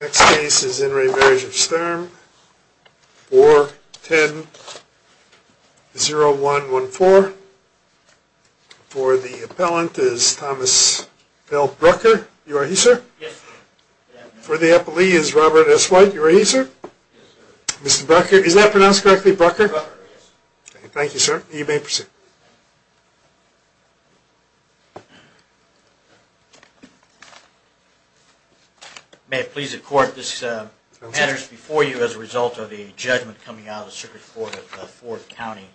Next case is In re the Marriage of Sturm, 4-10-0114. For the appellant is Thomas L. Brucker. You are he, sir? Yes, sir. For the appellee is Robert S. White. You are he, sir? Yes, sir. Mr. Brucker, is that pronounced correctly, Brucker? Brucker, yes. Thank you, sir. You may proceed. May it please the court, this matters before you as a result of a judgment coming out of the circuit court of Ford County.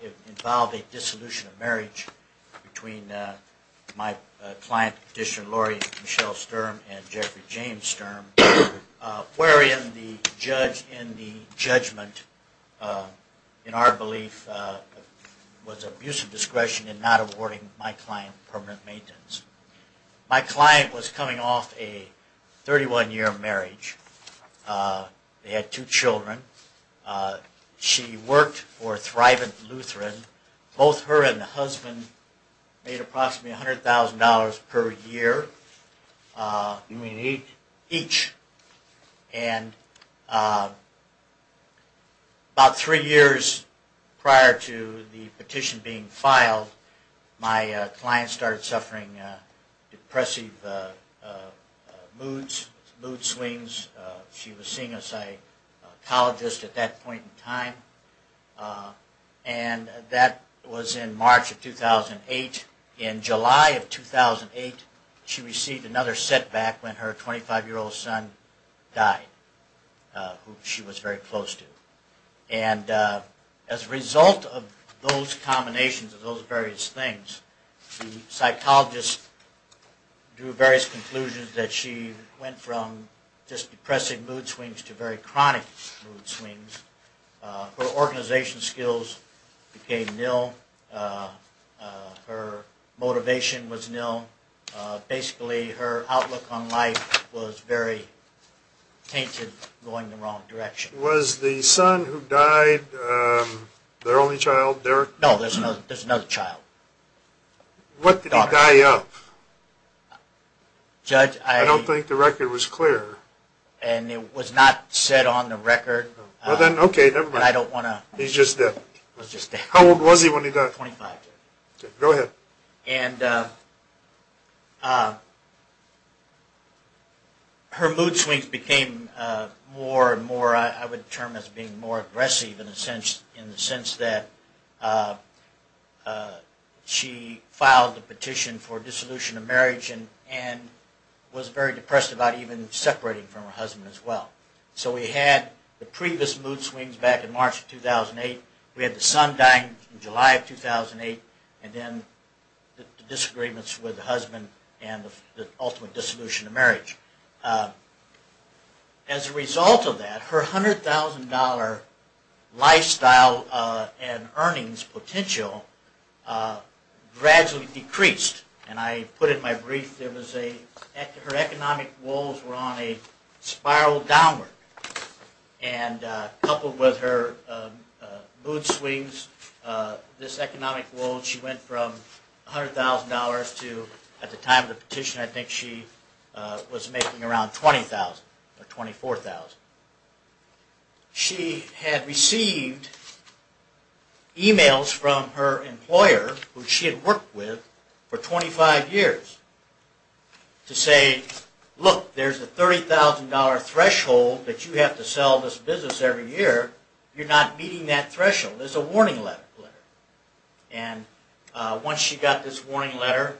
It involved a dissolution of marriage between my client, petitioner Laurie Michelle Sturm and Jeffrey James Sturm. Wherein the judge in the judgment, in our belief, was abusive discretion in not awarding my client permanent maintenance. My client was coming off a 31-year marriage. They had two children. She worked for Thrivant Lutheran. Both her and the husband made approximately $100,000 per year. You mean each? Each. And about three years prior to the petition being filed, my client started suffering depressive mood swings. She was seeing a psychologist at that point in time. And that was in March of 2008. In July of 2008, she received another setback when her 25-year-old son died, who she was very close to. And as a result of those combinations of those various things, the psychologist drew various conclusions that she went from just depressing mood swings to very chronic mood swings. Her organization skills became nil. Her motivation was nil. Basically, her outlook on life was very tainted, going in the wrong direction. Was the son who died their only child, Derek? No, there's another child. What did he die of? Judge, I... I don't think the record was clear. And it was not said on the record. Well then, okay, never mind. He's just dead. He was just dead. How old was he when he died? Twenty-five. Go ahead. And her mood swings became more and more, I would term as being more aggressive in the sense that she filed a petition for dissolution of marriage and was very depressed about even separating from her husband as well. So we had the previous mood swings back in March of 2008. We had the son dying in July of 2008, and then the disagreements with the husband and the ultimate dissolution of marriage. As a result of that, her $100,000 lifestyle and earnings potential gradually decreased. And I put in my brief, her economic woes were on a spiral downward. And coupled with her mood swings, this economic woe, she went from $100,000 to, at the time of the petition, I think she was making around $20,000 or $24,000. She had received emails from her employer, who she had worked with for 25 years, to say, look, there's a $30,000 threshold that you have to sell this business every year. You're not meeting that threshold. There's a warning letter. And once she got this warning letter,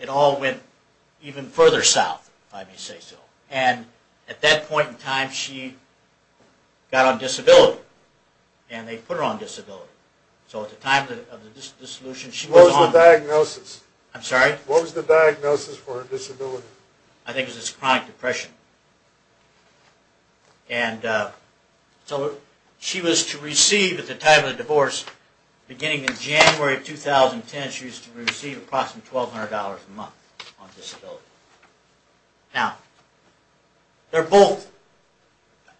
it all went even further south, if I may say so. And at that point in time, she got on disability. And they put her on disability. So at the time of the dissolution, she was on... What was the diagnosis? I'm sorry? What was the diagnosis for her disability? I think it was chronic depression. And so she was to receive, at the time of the divorce, beginning in January of 2010, she was to receive approximately $1,200 a month on disability. Now, they're both,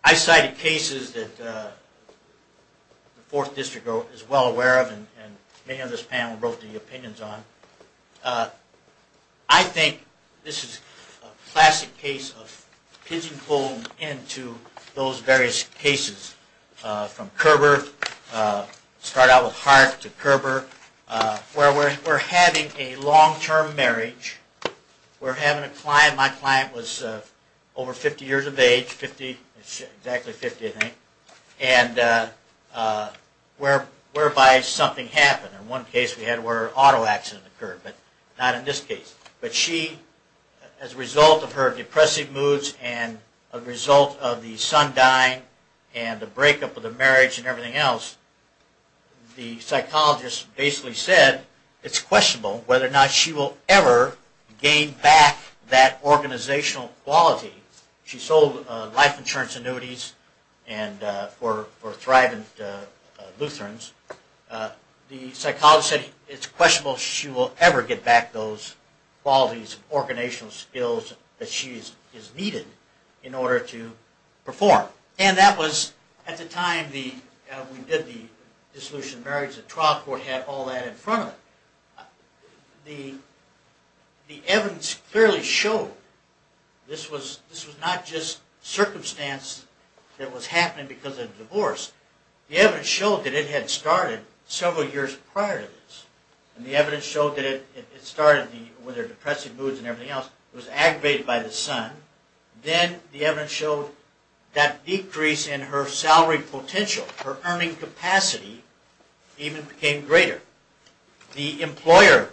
I cited cases that the Fourth District is well aware of, and many of this panel wrote their opinions on. I think this is a classic case of pigeon-holed into those various cases. From Kerber, start out with Hart to Kerber, where we're having a long-term marriage. We're having a client, my client was over 50 years of age, 50, exactly 50 I think, and whereby something happened. In one case we had where an auto accident occurred, but not in this case. But she, as a result of her depressive moods and a result of the son dying and the breakup of the marriage and everything else, the psychologist basically said it's questionable whether or not she will ever gain back that organizational quality. She sold life insurance annuities for Thrive and Lutherans. The psychologist said it's questionable if she will ever get back those qualities and organizational skills that she has needed in order to perform. And that was at the time we did the dissolution of marriage, the trial court had all that in front of it. The evidence clearly showed this was not just circumstance that was happening because of divorce. The evidence showed that it had started several years prior to this. And the evidence showed that it started with her depressive moods and everything else, was aggravated by the son. Then the evidence showed that decrease in her salary potential, her earning capacity, even became greater. The employer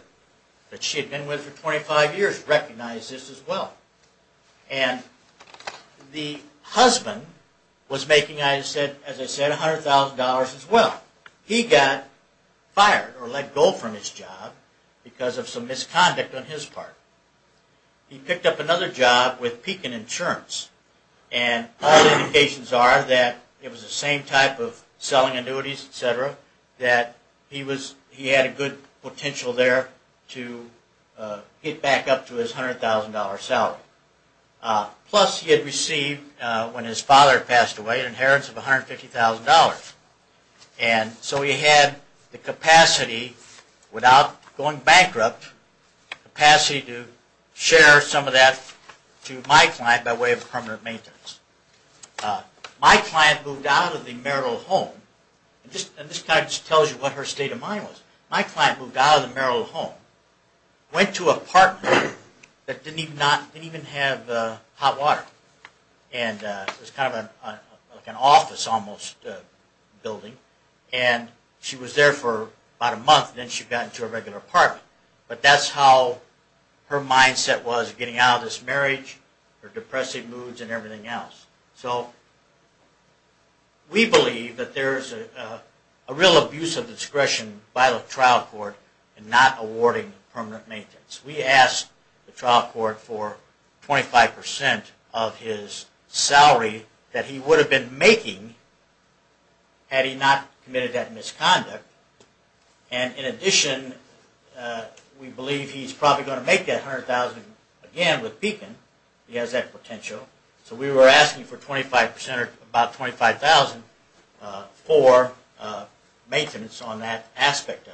that she had been with for 25 years recognized this as well. And the husband was making, as I said, $100,000 as well. He got fired or let go from his job because of some misconduct on his part. He picked up another job with Pekin Insurance. And all the indications are that it was the same type of selling annuities, etc. That he had a good potential there to get back up to his $100,000 salary. Plus he had received, when his father passed away, an inheritance of $150,000. And so he had the capacity, without going bankrupt, the capacity to share some of that to my client by way of permanent maintenance. My client moved out of the marital home, and this kind of tells you what her state of mind was. My client moved out of the marital home, went to an apartment that didn't even have hot water. And it was kind of like an office almost building. And she was there for about a month, and then she got into a regular apartment. But that's how her mindset was getting out of this marriage, her depressive moods, and everything else. So we believe that there's a real abuse of discretion by the trial court in not awarding permanent maintenance. We asked the trial court for 25% of his salary that he would have been making had he not committed that misconduct. And in addition, we believe he's probably going to make that $100,000 again with Beacon. He has that potential. So we were asking for 25% or about $25,000 for maintenance on that aspect of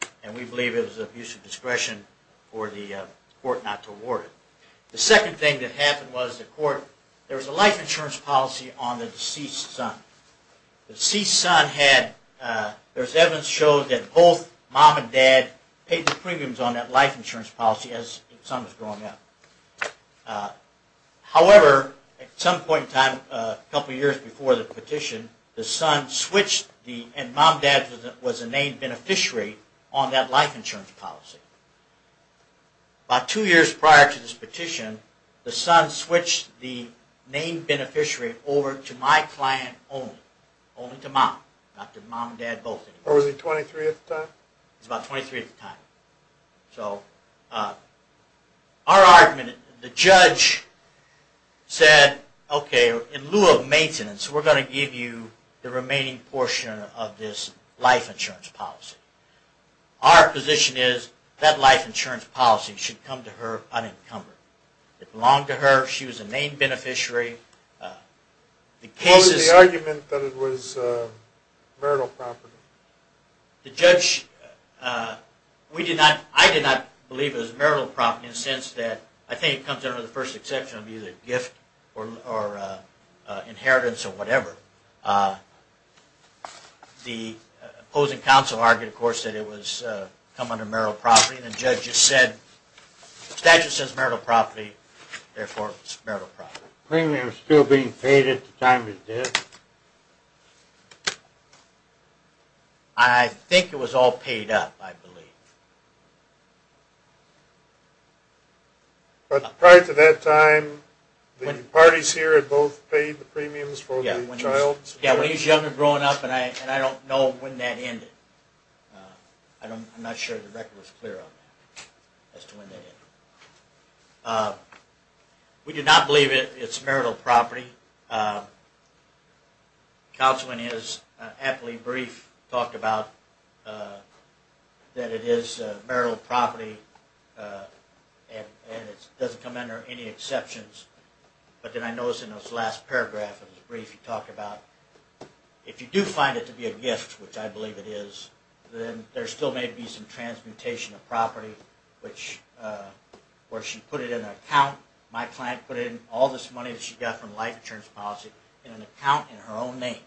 it. And we believe it was abuse of discretion for the court not to award it. The second thing that happened was the court, there was a life insurance policy on the deceased son. The deceased son had, there's evidence to show that both mom and dad paid the premiums on that life insurance policy as the son was growing up. However, at some point in time, a couple years before the petition, the son switched, and mom and dad was a named beneficiary on that life insurance policy. About two years prior to this petition, the son switched the named beneficiary over to my client only, only to mom, not to mom and dad both. Or was he 23 at the time? He was about 23 at the time. So our argument, the judge said, okay, in lieu of maintenance, we're going to give you the remaining portion of this life insurance policy. Our position is that life insurance policy should come to her unencumbered. It belonged to her. She was a named beneficiary. What was the argument that it was marital property? The judge, we did not, I did not believe it was marital property in the sense that I think it comes under the first exception of either gift or inheritance or whatever. The opposing counsel argued, of course, that it was come under marital property, and the judge just said, the statute says marital property, therefore it's marital property. Were premiums still being paid at the time of death? I think it was all paid up, I believe. But prior to that time, the parties here had both paid the premiums for the child? Yeah, when he was younger growing up, and I don't know when that ended. I'm not sure the record was clear on that, as to when that ended. We did not believe it's marital property. Counsel in his aptly brief talked about that it is marital property, and it doesn't come under any exceptions. But then I noticed in his last paragraph of his brief, he talked about if you do find it to be a gift, which I believe it is, then there still may be some transmutation of property, where she put it in an account. My client put in all this money that she got from life insurance policy in an account in her own name.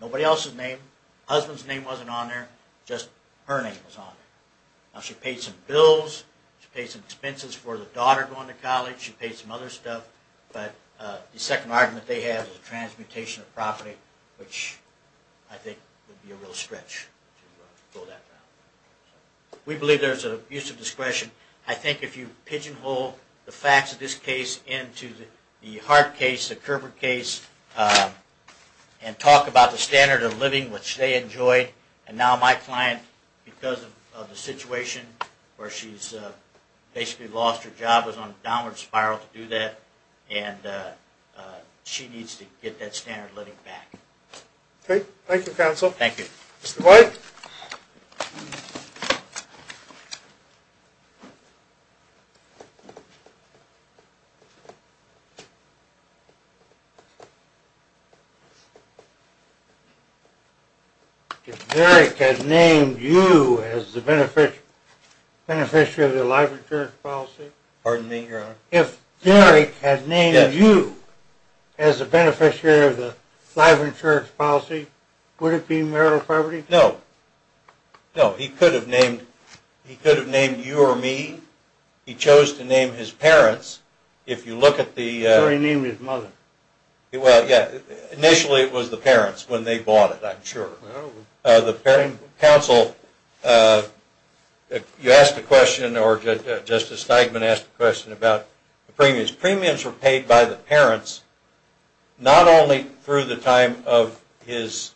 Nobody else's name, husband's name wasn't on there, just her name was on there. Now she paid some bills, she paid some expenses for the daughter going to college, she paid some other stuff, but the second argument they had was transmutation of property, which I think would be a real stretch to go that route. We believe there's an abuse of discretion. I think if you pigeonhole the facts of this case into the Hart case, the Kerber case, and talk about the standard of living which they enjoyed, and now my client, because of the situation where she's basically lost her job, is on a downward spiral to do that, and she needs to get that standard of living back. Okay, thank you counsel. Thank you. Mr. White. If Derrick had named you as the beneficiary of the life insurance policy, would it be marital property? No. No, he could have named you or me. He chose to name his parents. So he named his mother. Well, yeah. Initially it was the parents when they bought it, I'm sure. Counsel, you asked a question, or Justice Steigman asked a question about the premiums. The premiums were paid by the parents not only through the time of his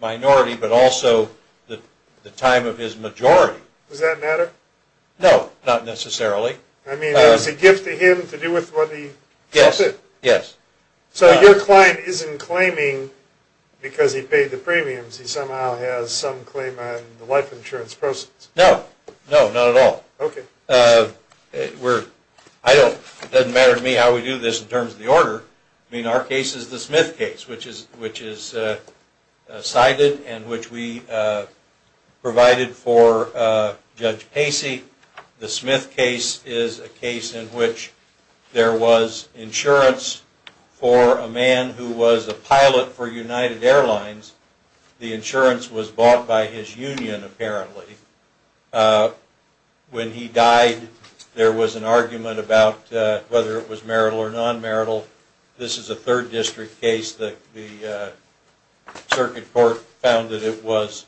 minority, but also the time of his majority. Does that matter? No, not necessarily. I mean, it was a gift to him to do with what he chose to do. Yes, yes. So your client isn't claiming because he paid the premiums. He somehow has some claim on the life insurance process. No, no, not at all. Okay. It doesn't matter to me how we do this in terms of the order. I mean, our case is the Smith case, which is cited and which we provided for Judge Casey. The Smith case is a case in which there was insurance for a man who was a pilot for United Airlines. The insurance was bought by his union, apparently. When he died, there was an argument about whether it was marital or non-marital. This is a third district case. The circuit court found that it was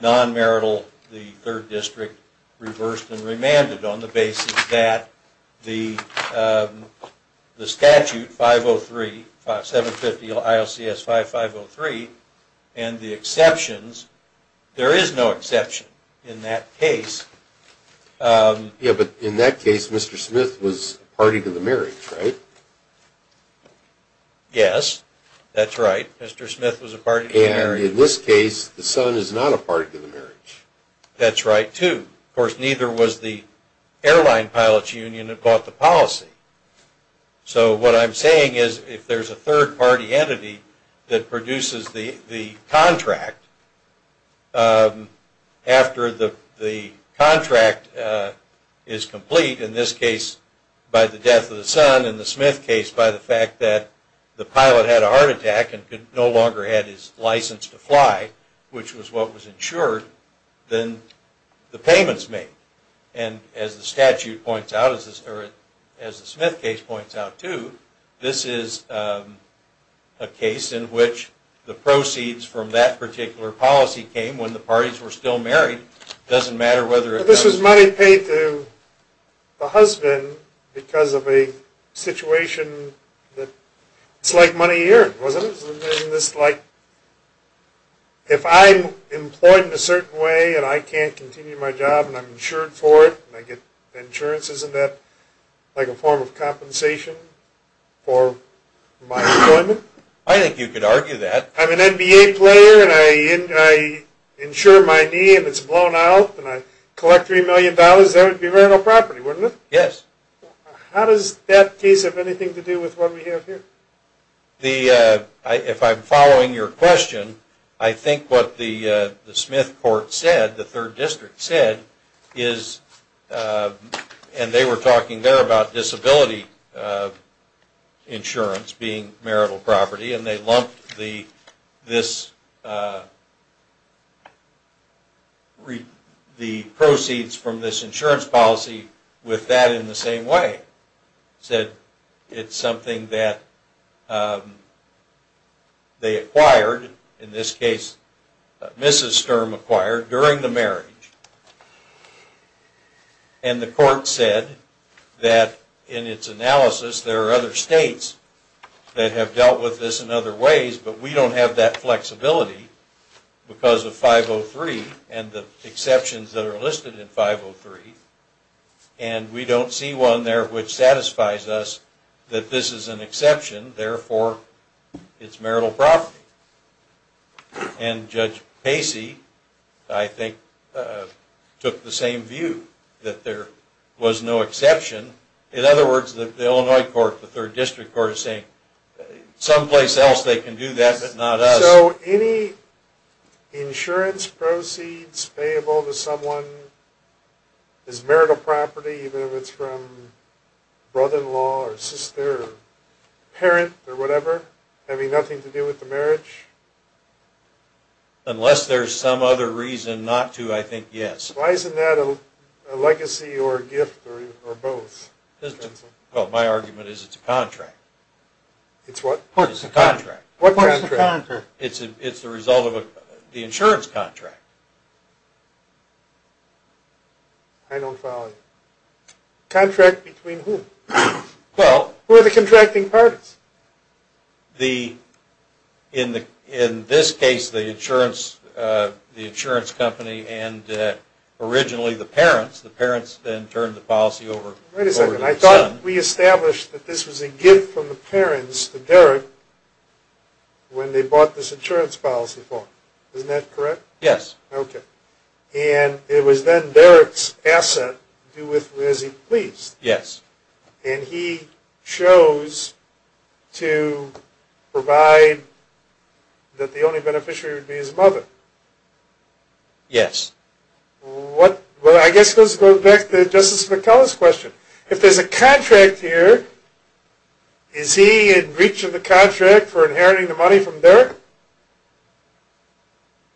non-marital. The third district reversed and remanded on the basis that the statute 503, 750 ILCS 5503, and the exceptions, there is no exception in that case. Yeah, but in that case, Mr. Smith was a party to the marriage, right? Yes, that's right. Mr. Smith was a party to the marriage. And in this case, the son is not a party to the marriage. That's right, too. Of course, neither was the airline pilot's union that bought the policy. So what I'm saying is, if there's a third party entity that produces the contract, after the contract is complete, in this case by the death of the son, in the Smith case by the fact that the pilot had a heart attack and no longer had his license to fly, which was what was insured, then the payment is made. And as the statute points out, or as the Smith case points out, too, this is a case in which the proceeds from that particular policy came when the parties were still married. It doesn't matter whether it was... But this was money paid to the husband because of a situation that... It's like money here, wasn't it? Isn't this like, if I'm employed in a certain way, and I can't continue my job, and I'm insured for it, and I get insurance, isn't that like a form of compensation for my employment? I think you could argue that. I'm an NBA player, and I insure my knee, and it's blown out, and I collect $3 million. That would be rental property, wouldn't it? Yes. How does that case have anything to do with what we have here? If I'm following your question, I think what the Smith court said, the third district said, is, and they were talking there about disability insurance being marital property, and they lumped the proceeds from this insurance policy with that in the same way. They said it's something that they acquired, in this case Mrs. Sturm acquired, during the marriage. And the court said that in its analysis, there are other states that have dealt with this in other ways, but we don't have that flexibility because of 503 and the exceptions that are listed in 503, and we don't see one there which satisfies us that this is an exception, therefore it's marital property. And Judge Pacey, I think, took the same view, that there was no exception. In other words, the Illinois court, the third district court is saying, someplace else they can do that, but not us. So any insurance proceeds payable to someone is marital property, even if it's from brother-in-law or sister or parent or whatever, having nothing to do with the marriage? Unless there's some other reason not to, I think, yes. Why isn't that a legacy or a gift or both? Well, my argument is it's a contract. It's what? It's a contract. What contract? It's the result of the insurance contract. I don't follow you. Contract between whom? Well... Who are the contracting parties? In this case, the insurance company and originally the parents. The parents then turned the policy over to the son. I thought we established that this was a gift from the parents to Derrick when they bought this insurance policy for him. Isn't that correct? Yes. Okay. And it was then Derrick's asset, as he pleased. Yes. And he chose to provide that the only beneficiary would be his mother. Yes. Well, I guess this goes back to Justice McCullough's question. If there's a contract here, is he in reach of the contract for inheriting the money from Derrick?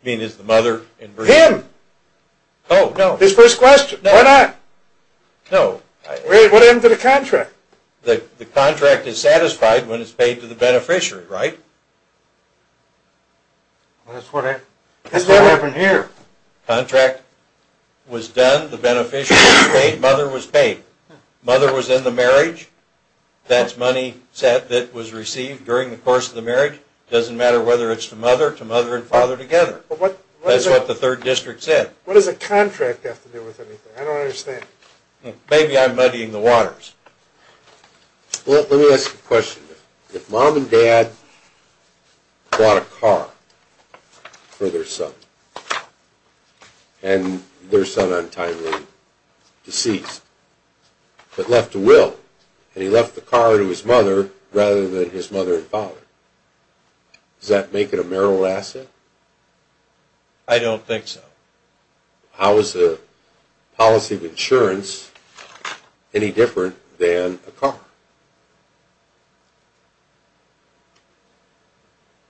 You mean is the mother in breach? Him! Oh, no. His first question. Why not? No. What happened to the contract? The contract is satisfied when it's paid to the beneficiary, right? That's what happened here. Contract was done. The beneficiary was paid. Mother was paid. Mother was in the marriage. That's money that was received during the course of the marriage. It doesn't matter whether it's to mother, to mother and father together. That's what the third district said. What does a contract have to do with anything? I don't understand. Maybe I'm muddying the waters. Well, let me ask you a question. If mom and dad bought a car for their son and their son untimely deceased but left a will and he left the car to his mother rather than his mother and father, does that make it a marital asset? I don't think so. How is the policy of insurance any different than a car?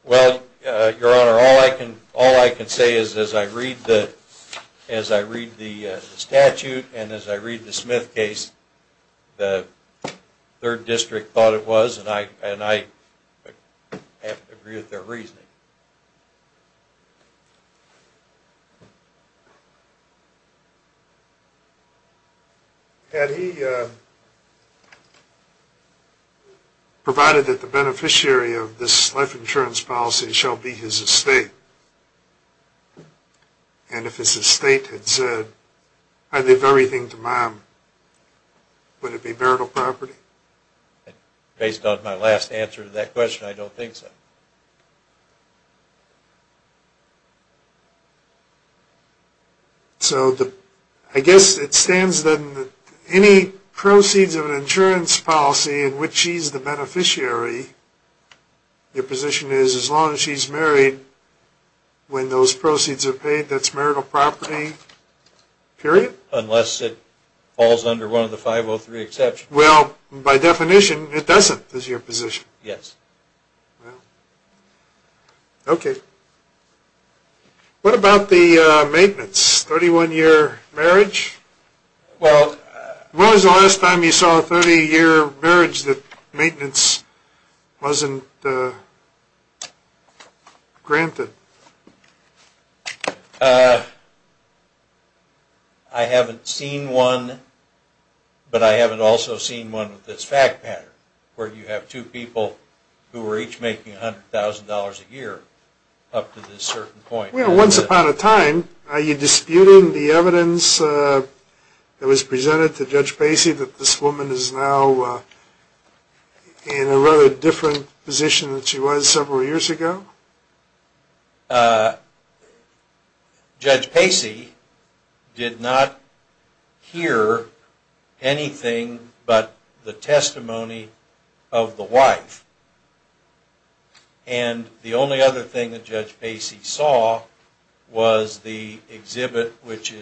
Well, Your Honor, all I can say is as I read the statute and as I read the Smith case, the third district thought it was, and I agree with their reasoning. Had he provided that the beneficiary of this life insurance policy shall be his estate, and if his estate had said, I leave everything to mom, would it be marital property? Based on my last answer to that question, I don't think so. So I guess it stands then that any proceeds of an insurance policy in which she's the beneficiary, your position is as long as she's married, when those proceeds are paid, that's marital property, period? Unless it falls under one of the 503 exceptions. Well, by definition, it doesn't is your position. Yes. Well, okay. What about the maintenance, 31-year marriage? When was the last time you saw a 30-year marriage that maintenance wasn't granted? I haven't seen one, but I haven't also seen one with this fact pattern, where you have two people who are each making $100,000 a year up to this certain point. Well, once upon a time, are you disputing the evidence that was presented to Judge Pacey that this woman is now in a rather different position than she was several years ago? No. Judge Pacey did not hear anything but the testimony of the wife. And the only other thing that Judge Pacey saw was the exhibit, which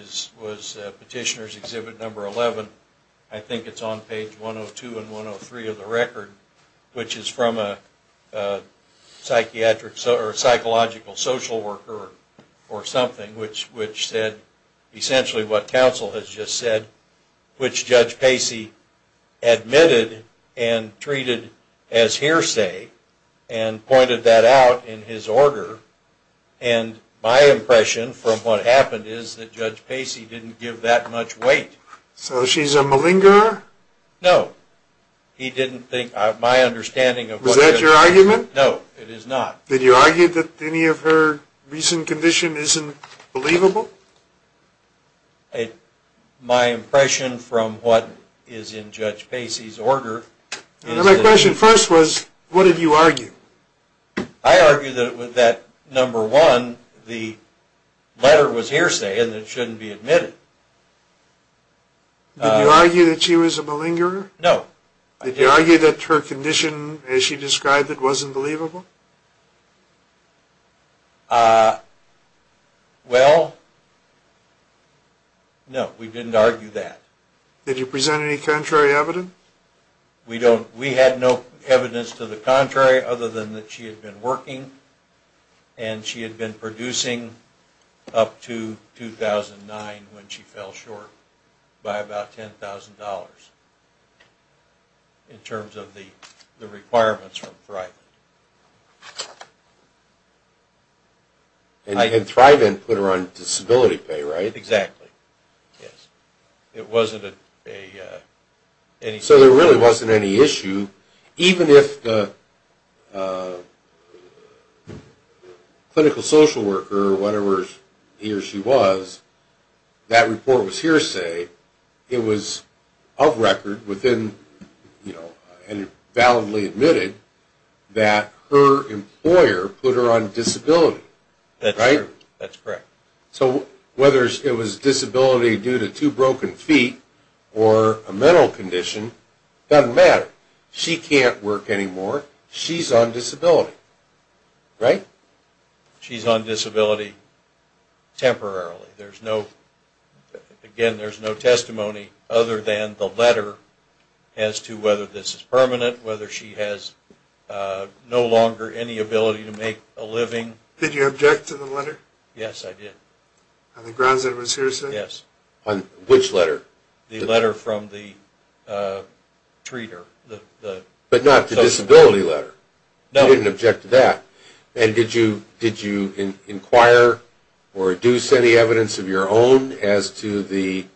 was Petitioner's Exhibit No. 11. I think it's on page 102 and 103 of the record, which is from a psychological social worker or something, which said essentially what counsel has just said, which Judge Pacey admitted and treated as hearsay and pointed that out in his order. And my impression from what happened is that Judge Pacey didn't give that much weight. So she's a malingerer? No. He didn't think, my understanding of what... Was that your argument? No, it is not. Did you argue that any of her recent condition isn't believable? My impression from what is in Judge Pacey's order... My question first was, what did you argue? I argued that with that No. 1, the letter was hearsay and it shouldn't be admitted. Did you argue that she was a malingerer? No. Did you argue that her condition as she described it wasn't believable? Well, no, we didn't argue that. Did you present any contrary evidence? We had no evidence to the contrary other than that she had been working and she had been producing up to 2009 when she fell short by about $10,000 in terms of the requirements from ThriveIn. And ThriveIn put her on disability pay, right? Exactly. It wasn't a... So there really wasn't any issue even if the clinical social worker or whatever he or she was, that report was hearsay. It was of record within, you know, and it validly admitted that her employer put her on disability, right? That's correct. So whether it was disability due to two broken feet or a mental condition, it doesn't matter. She can't work anymore. She's on disability, right? She's on disability temporarily. There's no... Again, there's no testimony other than the letter as to whether this is permanent, whether she has no longer any ability to make a living. Did you object to the letter? Yes, I did. On the grounds that it was hearsay? Yes. On which letter? The letter from the treater. But not the disability letter? No. You didn't object to that? And did you inquire or deduce any evidence of your own as to the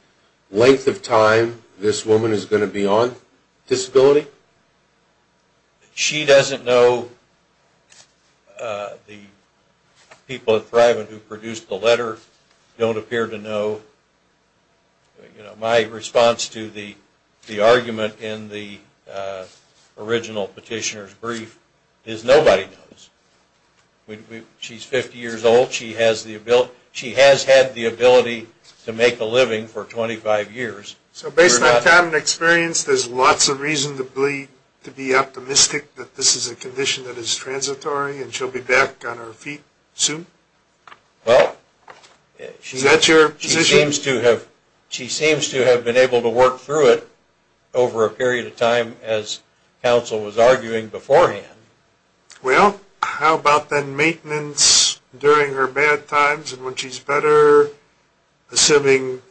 length of time this woman is going to be on disability? She doesn't know. The people at Thriven who produced the letter don't appear to know. My response to the argument in the original petitioner's brief is nobody knows. She's 50 years old. She has had the ability to make a living for 25 years. So based on that time and experience, there's lots of reason to be optimistic that this is a condition that is transitory and she'll be back on her feet soon? Well, she seems to have been able to work through it over a period of time, as counsel was arguing beforehand. Well, how about then maintenance during her bad times and when she's better, assuming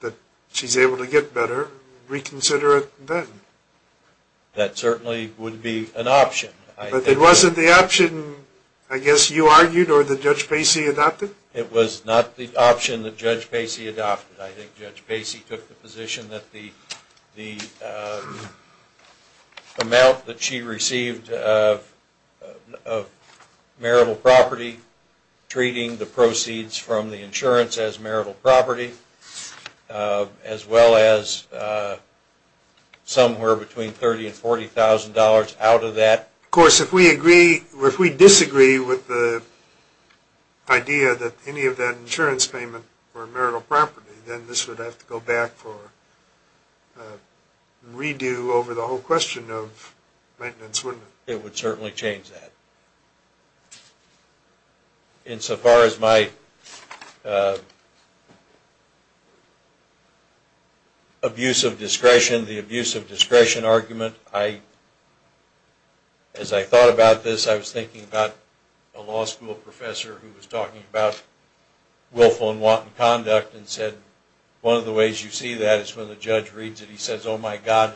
that she's able to get better, reconsider it then? That certainly would be an option. But it wasn't the option, I guess you argued, or that Judge Pacey adopted? It was not the option that Judge Pacey adopted. I think Judge Pacey took the position that the amount that she received of marital property, treating the proceeds from the insurance as marital property, as well as somewhere between $30,000 and $40,000 out of that. Of course, if we disagree with the idea that any of that insurance payment were marital property, then this would have to go back for a redo over the whole question of maintenance, wouldn't it? It would certainly change that. Insofar as my abuse of discretion, the abuse of discretion argument, as I thought about this, I was thinking about a law school professor who was talking about willful and wanton conduct and said, one of the ways you see that is when the judge reads it, he says, oh my God,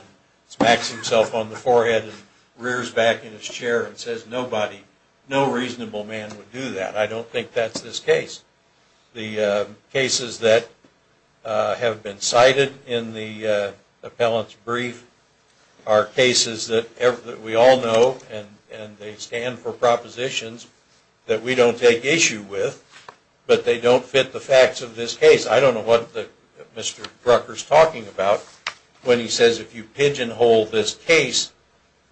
smacks himself on the forehead and rears back in his chair and says, nobody, no reasonable man would do that. I don't think that's this case. The cases that have been cited in the appellant's brief are cases that we all know and they stand for propositions that we don't take issue with, but they don't fit the facts of this case. I don't know what Mr. Brucker is talking about when he says, if you pigeonhole this case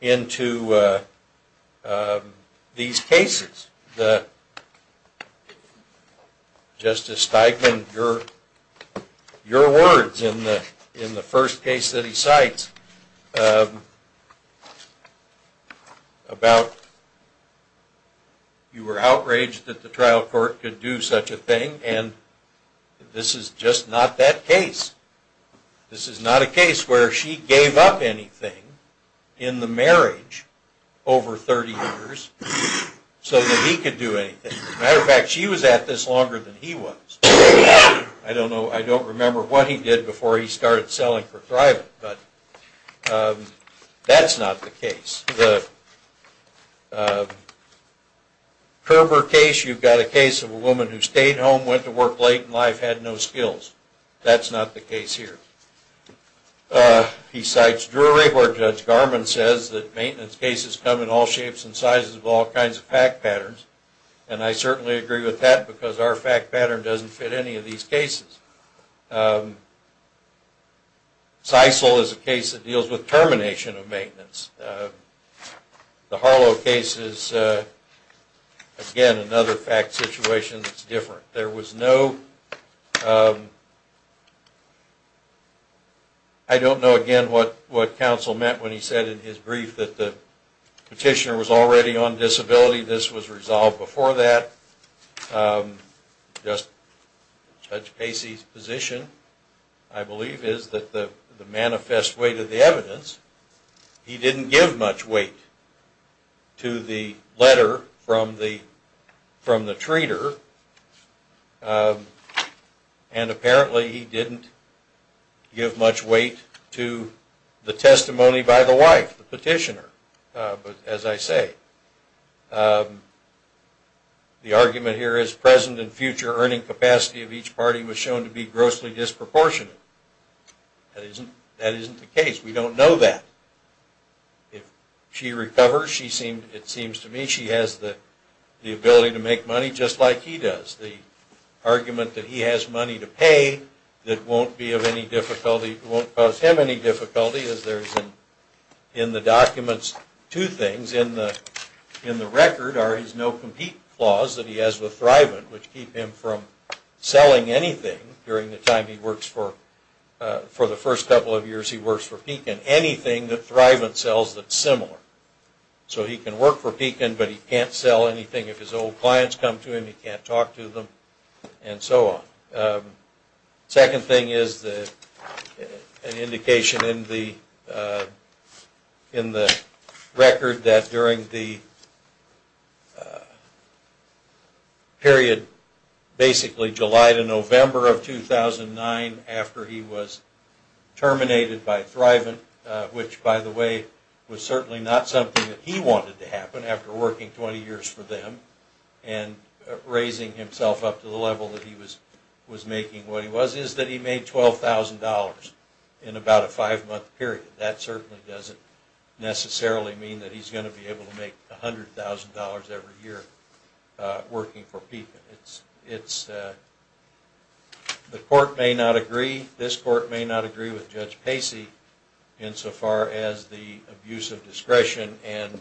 into these cases. Justice Steigman, your words in the first case that he cites about you were outraged that the trial court could do such a thing and this is just not that case. This is not a case where she gave up anything in the marriage over 30 years so that he could do anything. As a matter of fact, she was at this longer than he was. I don't know, I don't remember what he did before he started selling for thriving, but that's not the case. The Kerber case, you've got a case of a woman who stayed home, went to work late in life, had no skills. That's not the case here. He cites Drury where Judge Garman says that maintenance cases come in all shapes and sizes of all kinds of fact patterns and I certainly agree with that because our fact pattern doesn't fit any of these cases. Sisal is a case that deals with termination of maintenance. The Harlow case is, again, another fact situation that's different. There was no, I don't know again what counsel meant when he said in his brief that the petitioner was already on disability. This was resolved before that. Judge Casey's position, I believe, is that the manifest weight of the evidence, he didn't give much weight to the letter from the treater and apparently he didn't give much weight to the testimony by the wife, the petitioner. But as I say, the argument here is present and future earning capacity of each party was shown to be grossly disproportionate. That isn't the case. We don't know that. If she recovers, it seems to me she has the ability to make money just like he does. The argument that he has money to pay that won't cause him any difficulty is there's in the documents two things. In the record are his no compete clause that he has with Thrivent which keep him from selling anything during the time he works for, for the first couple of years he works for Pekin, anything that Thrivent sells that's similar. So he can work for Pekin, but he can't sell anything. If his old clients come to him, he can't talk to them and so on. Second thing is an indication in the record that during the period, basically July to November of 2009 after he was terminated by Thrivent, which by the way was certainly not something that he wanted to happen after working 20 years for them and raising himself up to the level that he was making what he was, is that he made $12,000 in about a five-month period. That certainly doesn't necessarily mean that he's going to be able to make $100,000 every year working for Pekin. The court may not agree, this court may not agree with Judge Pacey insofar as the abuse of discretion and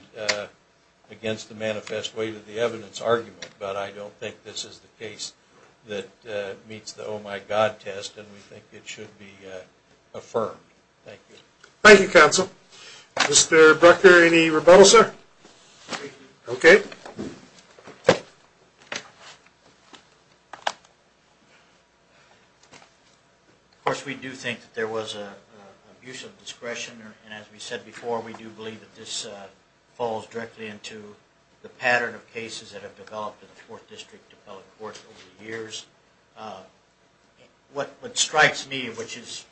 against the manifest way to the evidence argument, but I don't think this is the case that meets the oh-my-God test and we think it should be affirmed. Thank you. Thank you, counsel. Mr. Brecker, any rebuttal, sir? Okay. Thank you. Of course, we do think that there was an abuse of discretion and as we said before, we do believe that this falls directly into the pattern of cases that have developed in the Fourth District Appellate Court over the years. What strikes me, which is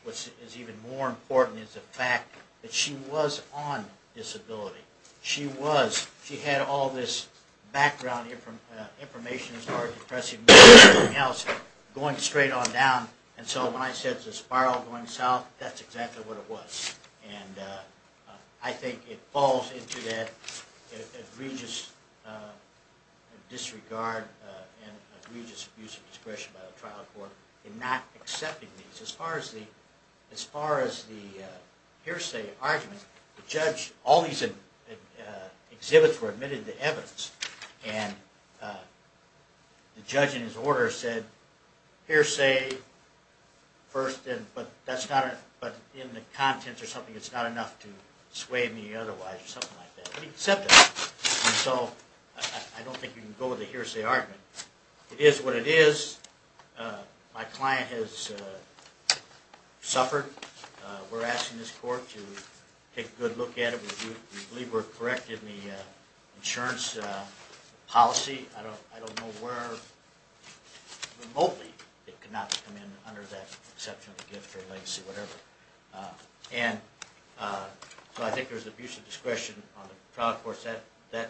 even more important, is the fact that she was on disability. She was. She had all this background information as far as depressive mood and everything else going straight on down and so when I said it's a spiral going south, that's exactly what it was. And I think it falls into that egregious disregard and egregious abuse of discretion by the trial court in not accepting these. As far as the hearsay argument, all these exhibits were admitted to evidence and the judge in his order said hearsay first but in the contents or something, it's not enough to sway me otherwise or something like that. But he said that. So I don't think you can go with the hearsay argument. It is what it is. My client has suffered. We're asking this court to take a good look at it. We believe we're correct in the insurance policy. I don't know where remotely it could not come in under that exception of a gift or legacy or whatever. So I think there's abuse of discretion on the trial court's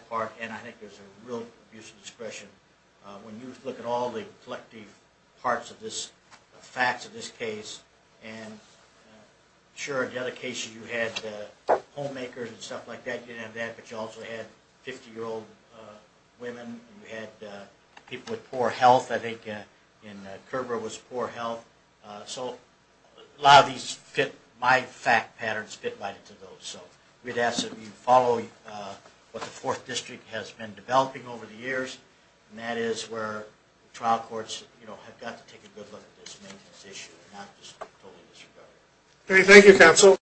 part and I think there's a real abuse of discretion when you look at all the collective parts of this, and I'm sure in the other cases you had homemakers and stuff like that. You didn't have that, but you also had 50-year-old women. You had people with poor health. I think in Curbera it was poor health. So a lot of my fact patterns fit right into those. So we'd ask that you follow what the 4th District has been developing over the years and that is where trial courts have got to take a good look at this maintenance issue and not just totally disregard it. Okay, thank you, counsel.